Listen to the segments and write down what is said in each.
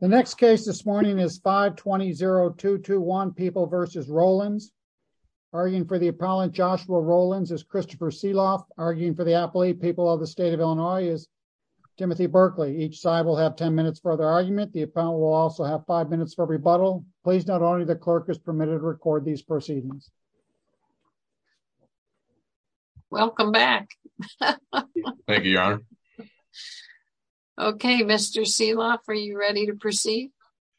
The next case this morning is 520-221 People v. Rowlands, arguing for the appellant Joshua Rowlands as Christopher Seeloff, arguing for the affiliate people of the state of Illinois as Timothy Berkley. Each side will have 10 minutes for their argument. The appellant will also have five minutes for rebuttal. Please note only the clerk is permitted to record these proceedings. Welcome back. Thank you, Your Honor. Okay, Mr. Seeloff, are you ready to proceed?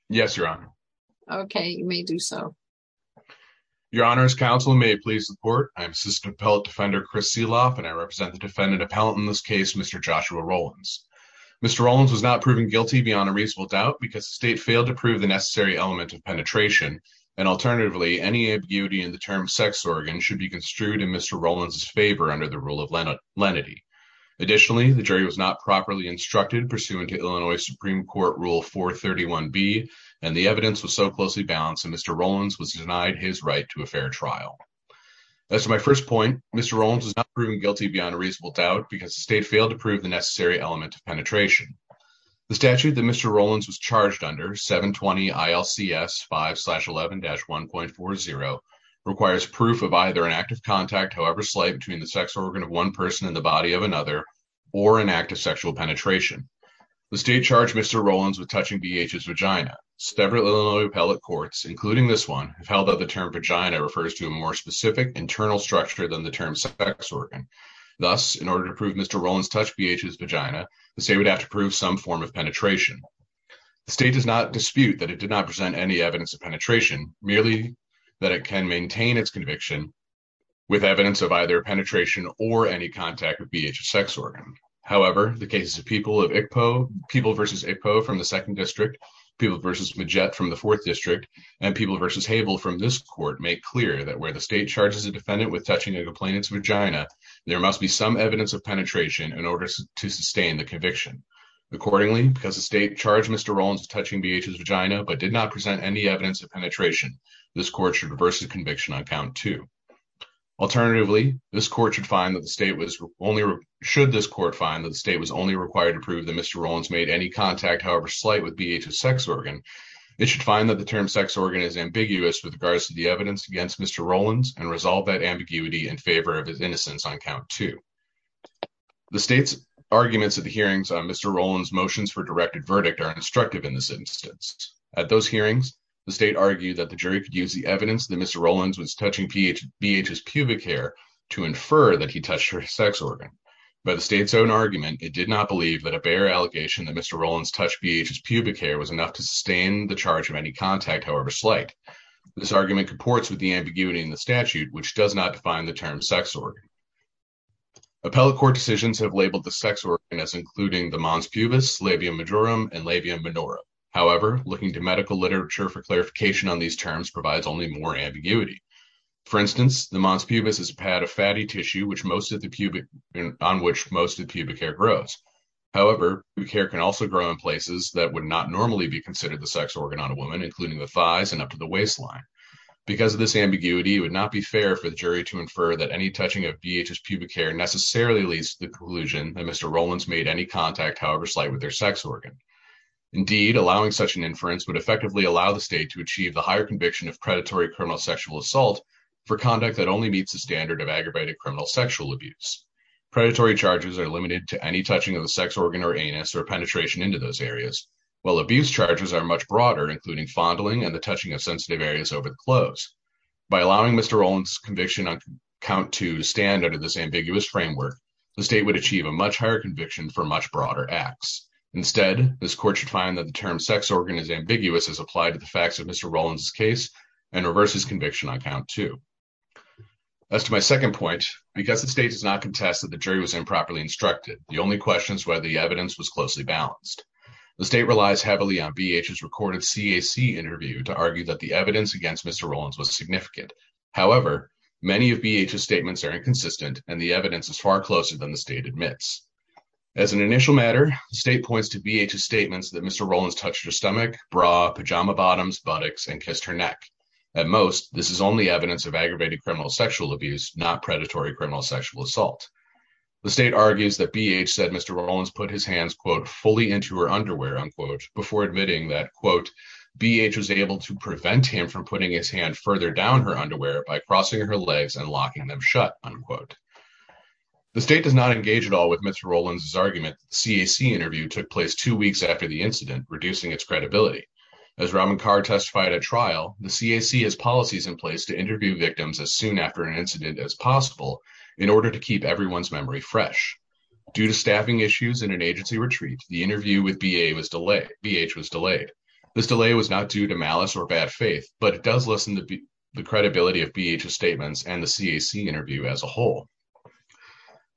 Yes, Your Honor. Okay, you may do so. Your Honor, as counsel, may I please report? I am Assistant Appellate Defender Chris Seeloff, and I represent the defendant appellant in this case, Mr. Joshua Rowlands. Mr. Rowlands was not proven guilty beyond a reasonable doubt because the state failed to prove the necessary element of penetration, and alternatively, any ambiguity in the term sex organ should be construed in Mr. Rowlands' favor under the rule of lenity. Additionally, the jury was not properly instructed pursuant to Illinois Supreme Court Rule 431B, and the evidence was so closely balanced that Mr. Rowlands was denied his right to a fair trial. As to my first point, Mr. Rowlands was not proven guilty beyond a reasonable doubt because the state failed to prove the necessary element of penetration. The statute that Mr. Rowlands was charged under, 720 ILCS 5-11-1.40, requires proof of either an active contact, however slight, between the sex organ of one person and the body of another, or an act of sexual penetration. The state charged Mr. Rowlands with touching B.H.'s vagina. Several Illinois appellate courts, including this one, have held that the term vagina refers to a more specific internal structure than the term sex organ. Thus, in order to prove Mr. Rowlands touched B.H.'s vagina, the state would have to prove some form of penetration. The state does not dispute that it did not present any evidence of penetration. However, the cases of People v. Iqpo from the 2nd District, People v. Majette from the 4th District, and People v. Habel from this court make clear that where the state charges a defendant with touching a complainant's vagina, there must be some evidence of penetration in order to sustain the conviction. Accordingly, because the state charged Mr. Rowlands with touching B.H.'s vagina, but did not present any evidence of penetration, this court should reverse the conviction on count two. Alternatively, this court should find that the state was only—should this court find that the state was only required to prove that Mr. Rowlands made any contact, however slight, with B.H.'s sex organ, it should find that the term sex organ is ambiguous with regards to the evidence against Mr. Rowlands and resolve that ambiguity in favor of his innocence on count two. The state's arguments at the hearings on Mr. Rowlands' motions for directed verdict are instructive in this instance. At those hearings, the state argued that the jury could use the evidence that Mr. Rowlands was touching B.H.'s pubic hair to infer that he touched her sex organ. By the state's own argument, it did not believe that a bare allegation that Mr. Rowlands touched B.H.'s pubic hair was enough to sustain the charge of any contact, however slight. This argument comports with the ambiguity in the statute, which does not define the term sex organ. Appellate court decisions have labeled the sex organ as including the mons pubis, labia majorum, and labia minora. However, looking to medical literature for clarification on these terms provides only more ambiguity. For instance, the mons pubis is a pad of fatty tissue on which most of the pubic hair grows. However, pubic hair can also grow in places that would not normally be considered the sex organ on a woman, including the thighs and up to the waistline. Because of this ambiguity, it would not be fair for the jury to infer that any touching of B.H.'s pubic hair necessarily leads to the conclusion that Mr. Rowlands made any contact, however slight, with their sex organ. Indeed, allowing such an inference would effectively allow the state to achieve the higher conviction of predatory criminal sexual assault for conduct that only meets the standard of aggravated criminal sexual abuse. Predatory charges are limited to any touching of the sex organ or anus or penetration into those areas, while abuse charges are much broader, including fondling and the touching of sensitive areas over the clothes. By allowing Mr. Rowlands' conviction on count two to stand under this ambiguous framework, the state would achieve a much higher conviction for much broader acts. Instead, this court should find that the term sex organ is ambiguous as applied to the facts of Mr. Rowlands' case and reverses conviction on count two. As to my second point, because the state does not contest that the jury was improperly instructed, the only question is whether the evidence was closely balanced. The state relies heavily on B.H.'s recorded CAC interview to argue that the evidence against Mr. Rowlands was significant. However, many of B.H.'s statements are inconsistent, and the evidence is far closer than the state admits. As an initial matter, the state points to B.H.'s statements that Mr. Rowlands touched her stomach, bra, pajama bottoms, buttocks, and kissed her neck. At most, this is only evidence of aggravated criminal sexual abuse, not predatory criminal sexual assault. The state argues that B.H. said Mr. Rowlands put his hands, quote, fully into her underwear, unquote, before admitting that, quote, B.H. was able to prevent him from doing that, unquote. The state does not engage at all with Mr. Rowlands' argument that the CAC interview took place two weeks after the incident, reducing its credibility. As Ramankar testified at trial, the CAC has policies in place to interview victims as soon after an incident as possible in order to keep everyone's memory fresh. Due to staffing issues and an agency retreat, the interview with B.H. was delayed. This delay was not due to malice or bad faith, but it does credibility of B.H.'s statements and the CAC interview as a whole.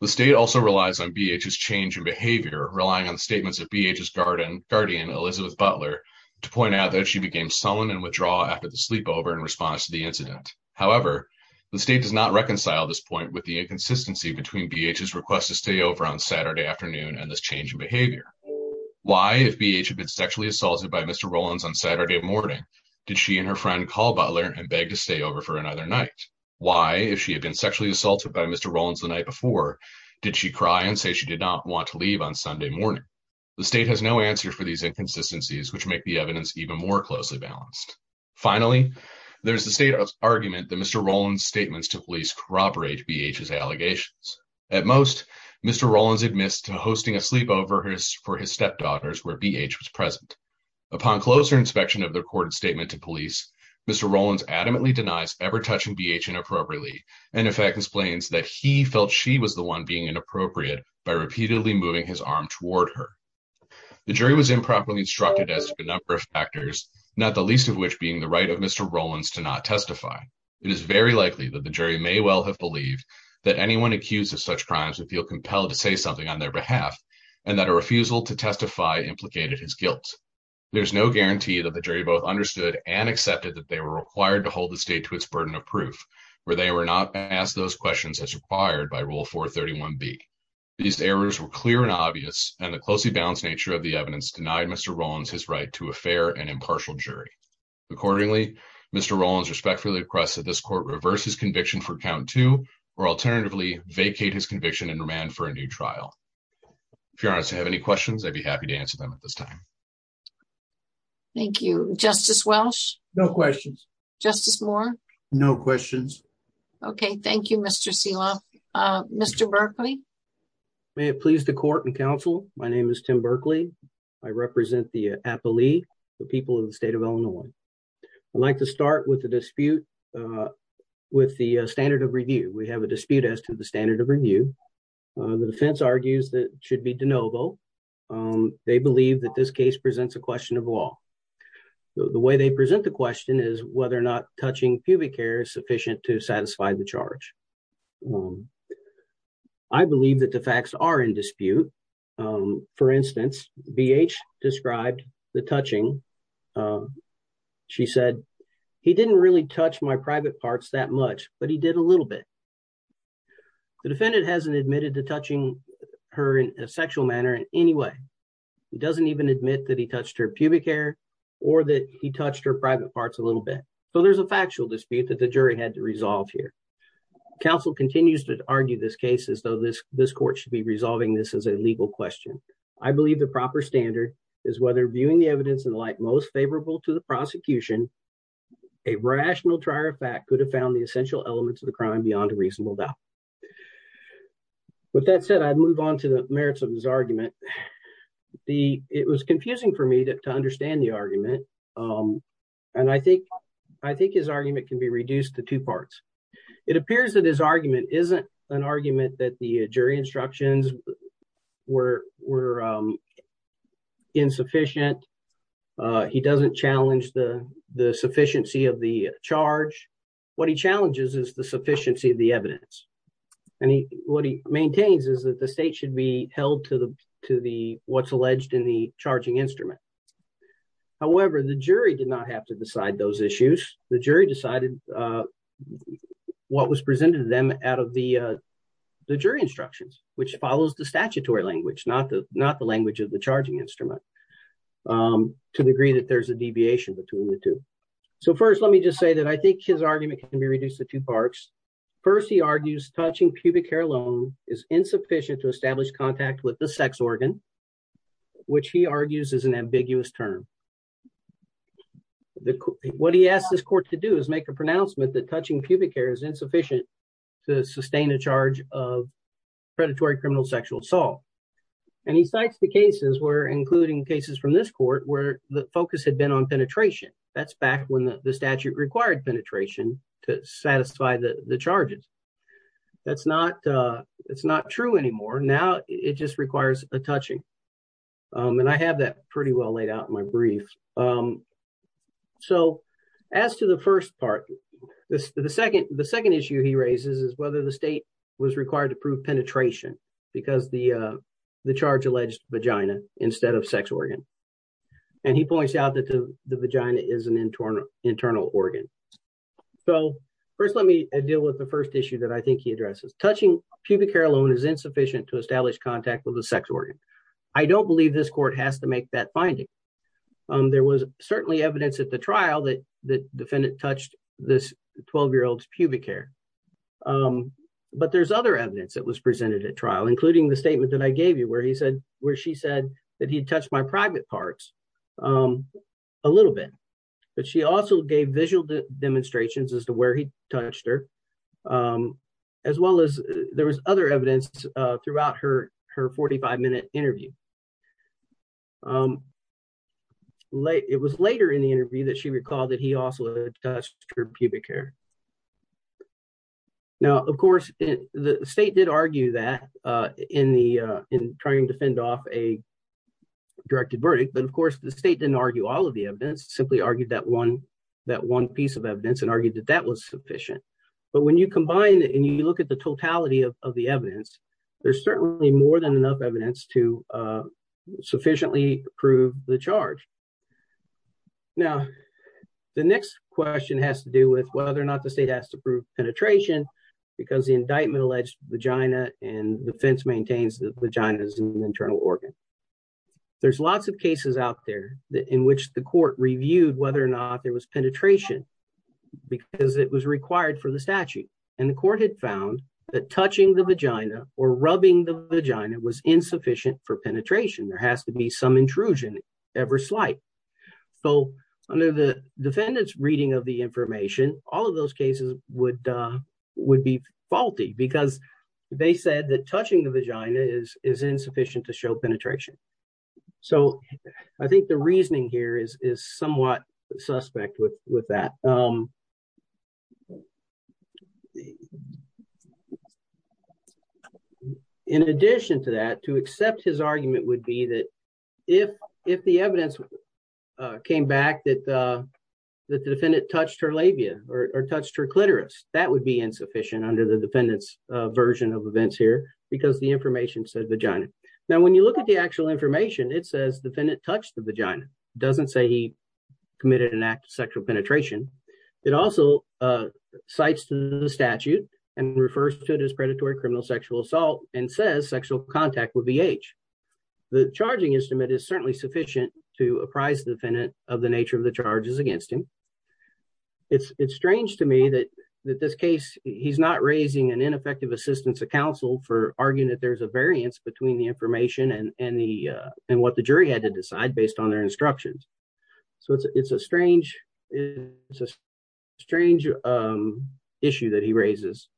The state also relies on B.H.'s change in behavior, relying on statements of B.H.'s guardian, Elizabeth Butler, to point out that she became sullen and withdraw after the sleepover in response to the incident. However, the state does not reconcile this point with the inconsistency between B.H.'s request to stay over on Saturday afternoon and this change in behavior. Why, if B.H. had been sexually assaulted by Mr. Rowlands on Saturday morning, did she and her friend call Butler and beg to stay over for another night? Why, if she had been sexually assaulted by Mr. Rowlands the night before, did she cry and say she did not want to leave on Sunday morning? The state has no answer for these inconsistencies, which make the evidence even more closely balanced. Finally, there is the state's argument that Mr. Rowlands' statements to police corroborate B.H.'s allegations. At most, Mr. Rowlands admits to hosting a sleepover for his stepdaughters where B.H. was present. Upon closer inspection of the recorded statement to police, Mr. Rowlands adamantly denies ever touching B.H. inappropriately and, in fact, explains that he felt she was the one being inappropriate by repeatedly moving his arm toward her. The jury was improperly instructed as to a number of factors, not the least of which being the right of Mr. Rowlands to not testify. It is very likely that the jury may well have believed that anyone accused of such crimes would feel There is no guarantee that the jury both understood and accepted that they were required to hold the state to its burden of proof, where they were not asked those questions as required by Rule 431B. These errors were clear and obvious, and the closely balanced nature of the evidence denied Mr. Rowlands his right to a fair and impartial jury. Accordingly, Mr. Rowlands respectfully requests that this court reverse his conviction for count two or, alternatively, vacate his conviction and remand for a new trial. If your honors have any questions, I'd be happy to answer them at this time. Thank you. Justice Welch? No questions. Justice Moore? No questions. Okay. Thank you, Mr. Selah. Mr. Berkley? May it please the court and counsel, my name is Tim Berkley. I represent the Appali, the people of the state of Illinois. I'd like to start with the dispute with the standard of review. We have a dispute as to the standard of review. The defense argues that it should be they believe that this case presents a question of law. The way they present the question is whether or not touching pubic hair is sufficient to satisfy the charge. I believe that the facts are in dispute. For instance, BH described the touching. She said, he didn't really touch my private parts that much, but he did a little bit. The defendant hasn't admitted to touching her in a sexual manner in any way. He doesn't even admit that he touched her pubic hair or that he touched her private parts a little bit. So there's a factual dispute that the jury had to resolve here. Counsel continues to argue this case as though this court should be resolving this as a legal question. I believe the proper standard is whether viewing the evidence in the light most favorable to the prosecution, a rational trier of fact could have found the essential elements of the crime beyond a reasonable doubt. With that said, I'd move on to the merits of his argument. It was confusing for me to understand the argument. I think his argument can be reduced to two parts. It appears that his argument isn't an argument that the jury instructions were insufficient. He doesn't challenge the sufficiency of the charge. What he challenges is the sufficiency of the evidence. And what he maintains is that the state should be held to what's alleged in the charging instrument. However, the jury did not have to decide those issues. The jury decided what was presented to them out of the jury instructions, which follows the statutory language, not the language of the charging instrument, to the degree that there's a deviation between the two. So first, let me just say that I think his argument can be reduced to two parts. First, he argues touching pubic hair alone is insufficient to establish contact with the sex organ, which he argues is an ambiguous term. What he asked this court to do is make a pronouncement that touching pubic hair is insufficient to sustain a charge of predatory sexual assault. And he cites the cases where, including cases from this court, where the focus had been on penetration. That's back when the statute required penetration to satisfy the charges. That's not true anymore. Now it just requires a touching. And I have that pretty well laid out in my brief. So as to the first part, the second issue he raises is whether the state was required to prove penetration because the charge alleged vagina instead of sex organ. And he points out that the vagina is an internal organ. So first, let me deal with the first issue that I think he addresses. Touching pubic hair alone is insufficient to establish contact with the sex organ. I don't believe this court has to make that finding. There was certainly evidence at the trial that the defendant touched this 12-year-old's pubic hair. But there's other evidence that was presented at trial, including the statement that I gave you where she said that he touched my private parts a little bit. But she also gave visual demonstrations as to where he touched her, as well as there was other evidence throughout her 45-minute interview. It was later in the interview that she recalled that he also touched her pubic hair. Now, of course, the state did argue that in trying to fend off a directed verdict. But of course, the state didn't argue all of the evidence, simply argued that one piece of evidence and argued that that was sufficient. But when you combine it and you look at the totality of the evidence to sufficiently prove the charge. Now, the next question has to do with whether or not the state has to prove penetration, because the indictment alleged vagina and defense maintains that vagina is an internal organ. There's lots of cases out there in which the court reviewed whether or not there was penetration, because it was required for the penetration. There has to be some intrusion, ever slight. So under the defendant's reading of the information, all of those cases would be faulty, because they said that touching the vagina is insufficient to show penetration. So I think the reasoning here is somewhat suspect with his argument would be that if the evidence came back that the defendant touched her labia or touched her clitoris, that would be insufficient under the defendant's version of events here, because the information said vagina. Now, when you look at the actual information, it says the defendant touched the vagina. It doesn't say he committed an act of sexual penetration. It also cites the statute and refers to it as predatory criminal sexual assault and says sexual contact with VH. The charging estimate is certainly sufficient to apprise the defendant of the nature of the charges against him. It's strange to me that this case, he's not raising an ineffective assistance of counsel for arguing that there's a variance between the information and what the jury had to decide based on their instructions. So it's a strange issue that he raises.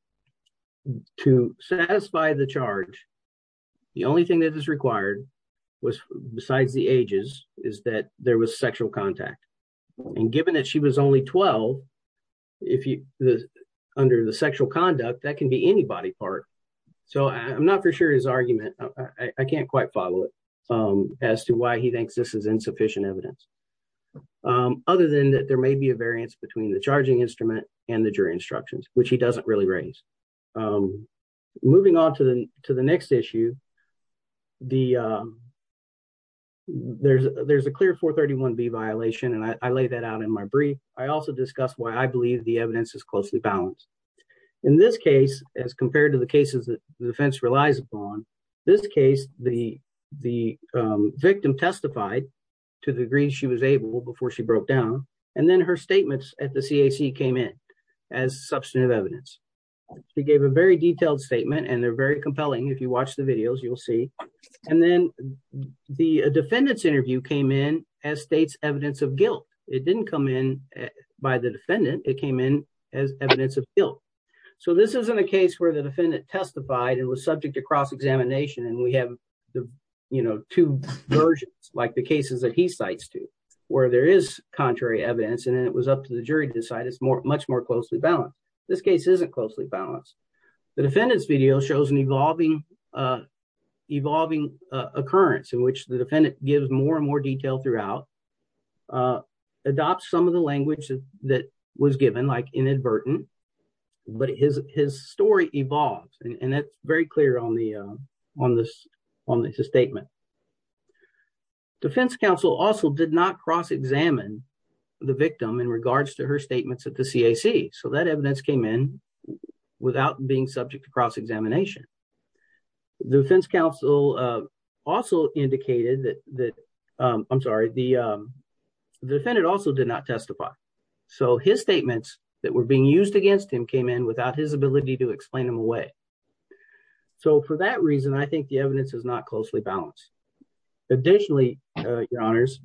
To satisfy the charge, the only thing that is required was besides the ages, is that there was sexual contact. And given that she was only 12, under the sexual conduct, that can be anybody's part. So I'm not for sure his argument. I can't follow it as to why he thinks this is insufficient evidence. Other than that, there may be a variance between the charging instrument and the jury instructions, which he doesn't really raise. Moving on to the next issue, there's a clear 431B violation, and I laid that out in my brief. I also discussed why I believe the evidence is closely balanced. In this case, as compared to the cases that the defense relies upon, this case, the victim testified to the degree she was able before she broke down, and then her statements at the CAC came in as substantive evidence. She gave a very detailed statement, and they're very compelling. If you watch the videos, you'll see. And then the defendant's interview came in as state's evidence of guilt. It didn't come in by the defendant. It came in as evidence of guilt. So this isn't a case where the defendant testified and was subject to cross-examination, and we have two versions, like the cases that he cites to, where there is contrary evidence, and it was up to the jury to decide. It's much more closely balanced. This case isn't closely balanced. The defendant's video shows an evolving occurrence in which the defendant gives more and more detail throughout, adopts some of the language that was very clear on the statement. Defense counsel also did not cross-examine the victim in regards to her statements at the CAC. So that evidence came in without being subject to cross-examination. The defense counsel also indicated that, I'm sorry, the defendant also did not testify. So his statements that were being used against him came in without his ability to explain them away. So for that reason, I think the evidence is not closely balanced. Additionally, your honors,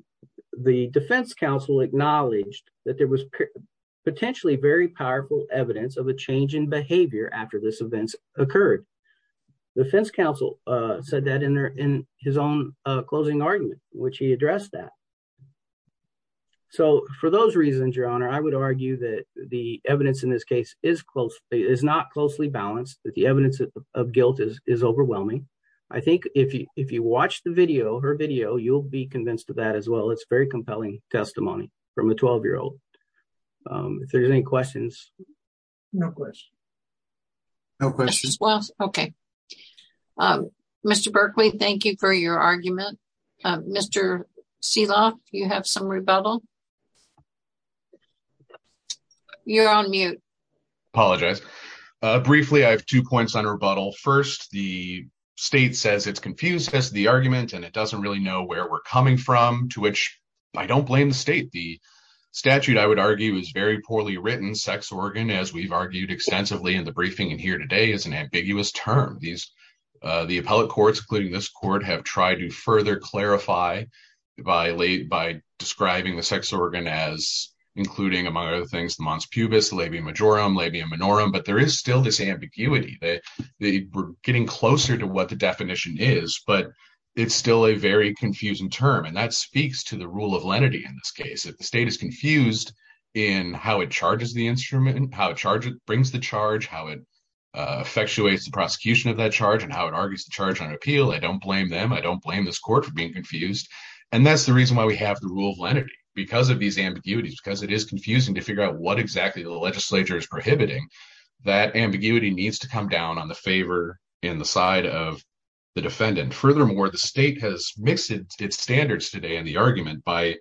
the defense counsel acknowledged that there was potentially very powerful evidence of a change in behavior after this event occurred. Defense counsel said that in his own closing argument, which he addressed that. So for those reasons, your honor, I would argue that the evidence in this case is not closely balanced, that the evidence of guilt is overwhelming. I think if you watch the video, her video, you'll be convinced of that as well. It's very compelling testimony from a 12-year-old. If there's any questions. No questions. No questions. Okay. Mr. Berkley, thank you for your argument. Mr. Seeloff, you have some rebuttal. You're on mute. Apologize. Briefly, I have two points on rebuttal. First, the state says it's confused as to the argument, and it doesn't really know where we're coming from, to which I don't blame the state. The statute, I would argue, is very poorly written. Sex organ, as we've argued extensively in the briefing in here today, is an ambiguous term. The appellate courts, including this court, have tried to further clarify by describing the sex organ as, including, among other things, the mons pubis, labia majorum, labia minorum, but there is still this ambiguity. We're getting closer to what the definition is, but it's still a very confusing term, and that speaks to the rule of lenity in this case. If the state is confused in how it charges the instrument, how it brings the charge, how it effectuates the prosecution of that charge, how it argues the charge on appeal, I don't blame them. I don't blame this court for being confused, and that's the reason why we have the rule of lenity, because of these ambiguities, because it is confusing to figure out what exactly the legislature is prohibiting. That ambiguity needs to come down on the favor in the side of the defendant. Furthermore, the state has mixed its standards today in the argument by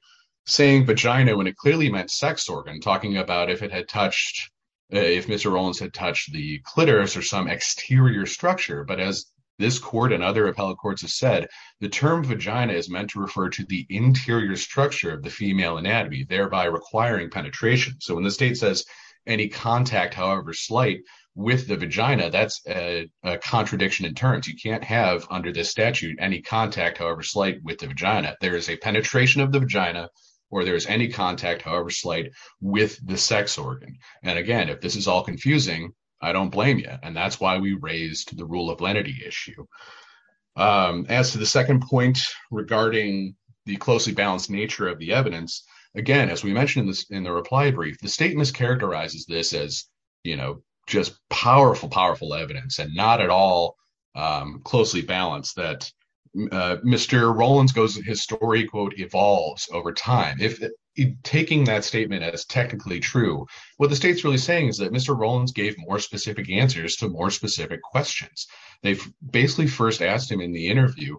saying vagina when it clearly meant sex organ, talking about if Mr. Rowlands had touched the clitoris or some exterior structure, but as this court and other appellate courts have said, the term vagina is meant to refer to the interior structure of the female anatomy, thereby requiring penetration. So when the state says any contact, however slight, with the vagina, that's a contradiction in terms. You can't have under this statute any contact, however slight, with the vagina. There is a penetration of the vagina or there's any contact, however slight, with the sex organ, and again, if this is all confusing, I don't blame you, and that's why we raised the rule of lenity issue. As to the second point regarding the closely balanced nature of the evidence, again, as we mentioned in the reply brief, the state mischaracterizes this as, you know, just powerful, powerful evidence and not at all closely balanced, that Mr. Rowlands goes, his story, quote, evolves over time. If taking that statement as technically true, what the state's really saying is that Mr. Rowlands gave more specific answers to more specific questions. They basically first asked him in the interview,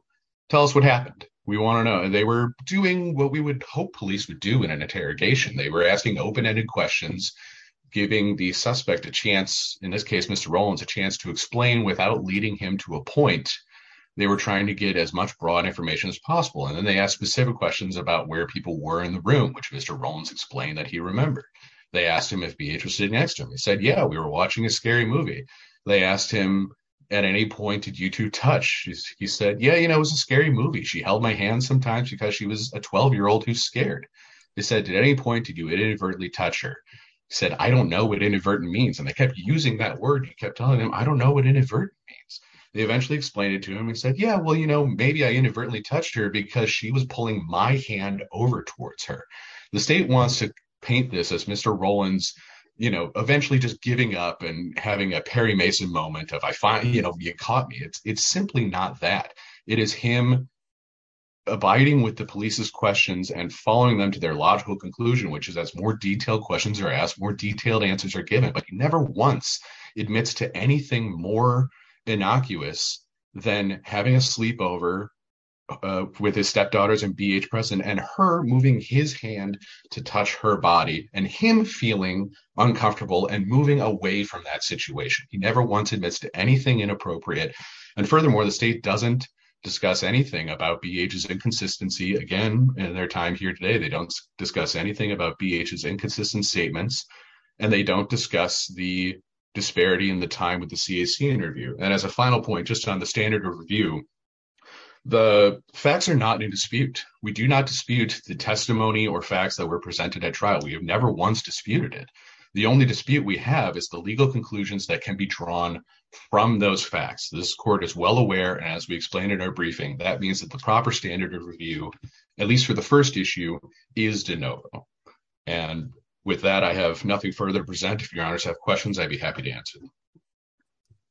tell us what happened, we want to know, and they were doing what we would hope police would do in an interrogation. They were asking open-ended questions, giving the suspect a chance, in this case Mr. Rowlands, a chance to explain without leading him to a point. They were trying to get as much broad information as possible, and then they asked specific questions about where people were in the room, which Mr. Rowlands explained that he remembered. They asked him if he'd be interested next to him. He said, yeah, we were watching a scary movie. They asked him, at any point, did you two touch? He said, yeah, you know, it was a scary movie. She held my hand sometimes because she was a 12-year-old who's scared. They said, at any point, did you inadvertently touch her? He said, I don't know what inadvertent means, and they kept using that word. He kept telling him, I don't know what inadvertent means. They eventually explained it to him and said, yeah, maybe I inadvertently touched her because she was pulling my hand over towards her. The state wants to paint this as Mr. Rowlands eventually just giving up and having a Perry Mason moment of, you caught me. It's simply not that. It is him abiding with the police's questions and following them to their logical conclusion, which is as more detailed questions are asked, more detailed answers are given, but he never once admits to anything more innocuous than having a sleepover with his stepdaughters and B.H. Preston and her moving his hand to touch her body and him feeling uncomfortable and moving away from that situation. He never once admits to anything inappropriate, and furthermore, the state doesn't discuss anything about B.H.'s inconsistency. Again, in their time here today, they don't discuss anything about B.H.'s inconsistent statements, and they don't discuss the disparity in the time with the CAC interview, and as a final point just on the standard of review, the facts are not in dispute. We do not dispute the testimony or facts that were presented at trial. We have never once disputed it. The only dispute we have is the legal conclusions that can be drawn from those facts. This court is well aware, and as we explained in our briefing, that means that the proper standard of review, at least for the first issue, is de novo, and with that, I have nothing further to present. If your honors have questions, I'd be happy to answer them.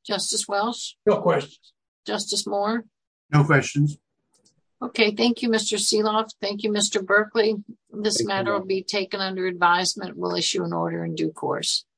Justice Welch? No questions. Justice Moore? No questions. Okay, thank you, Mr. Seeloff. Thank you, Mr. Berkley. This matter will be taken under advisement. We'll issue an order in due course.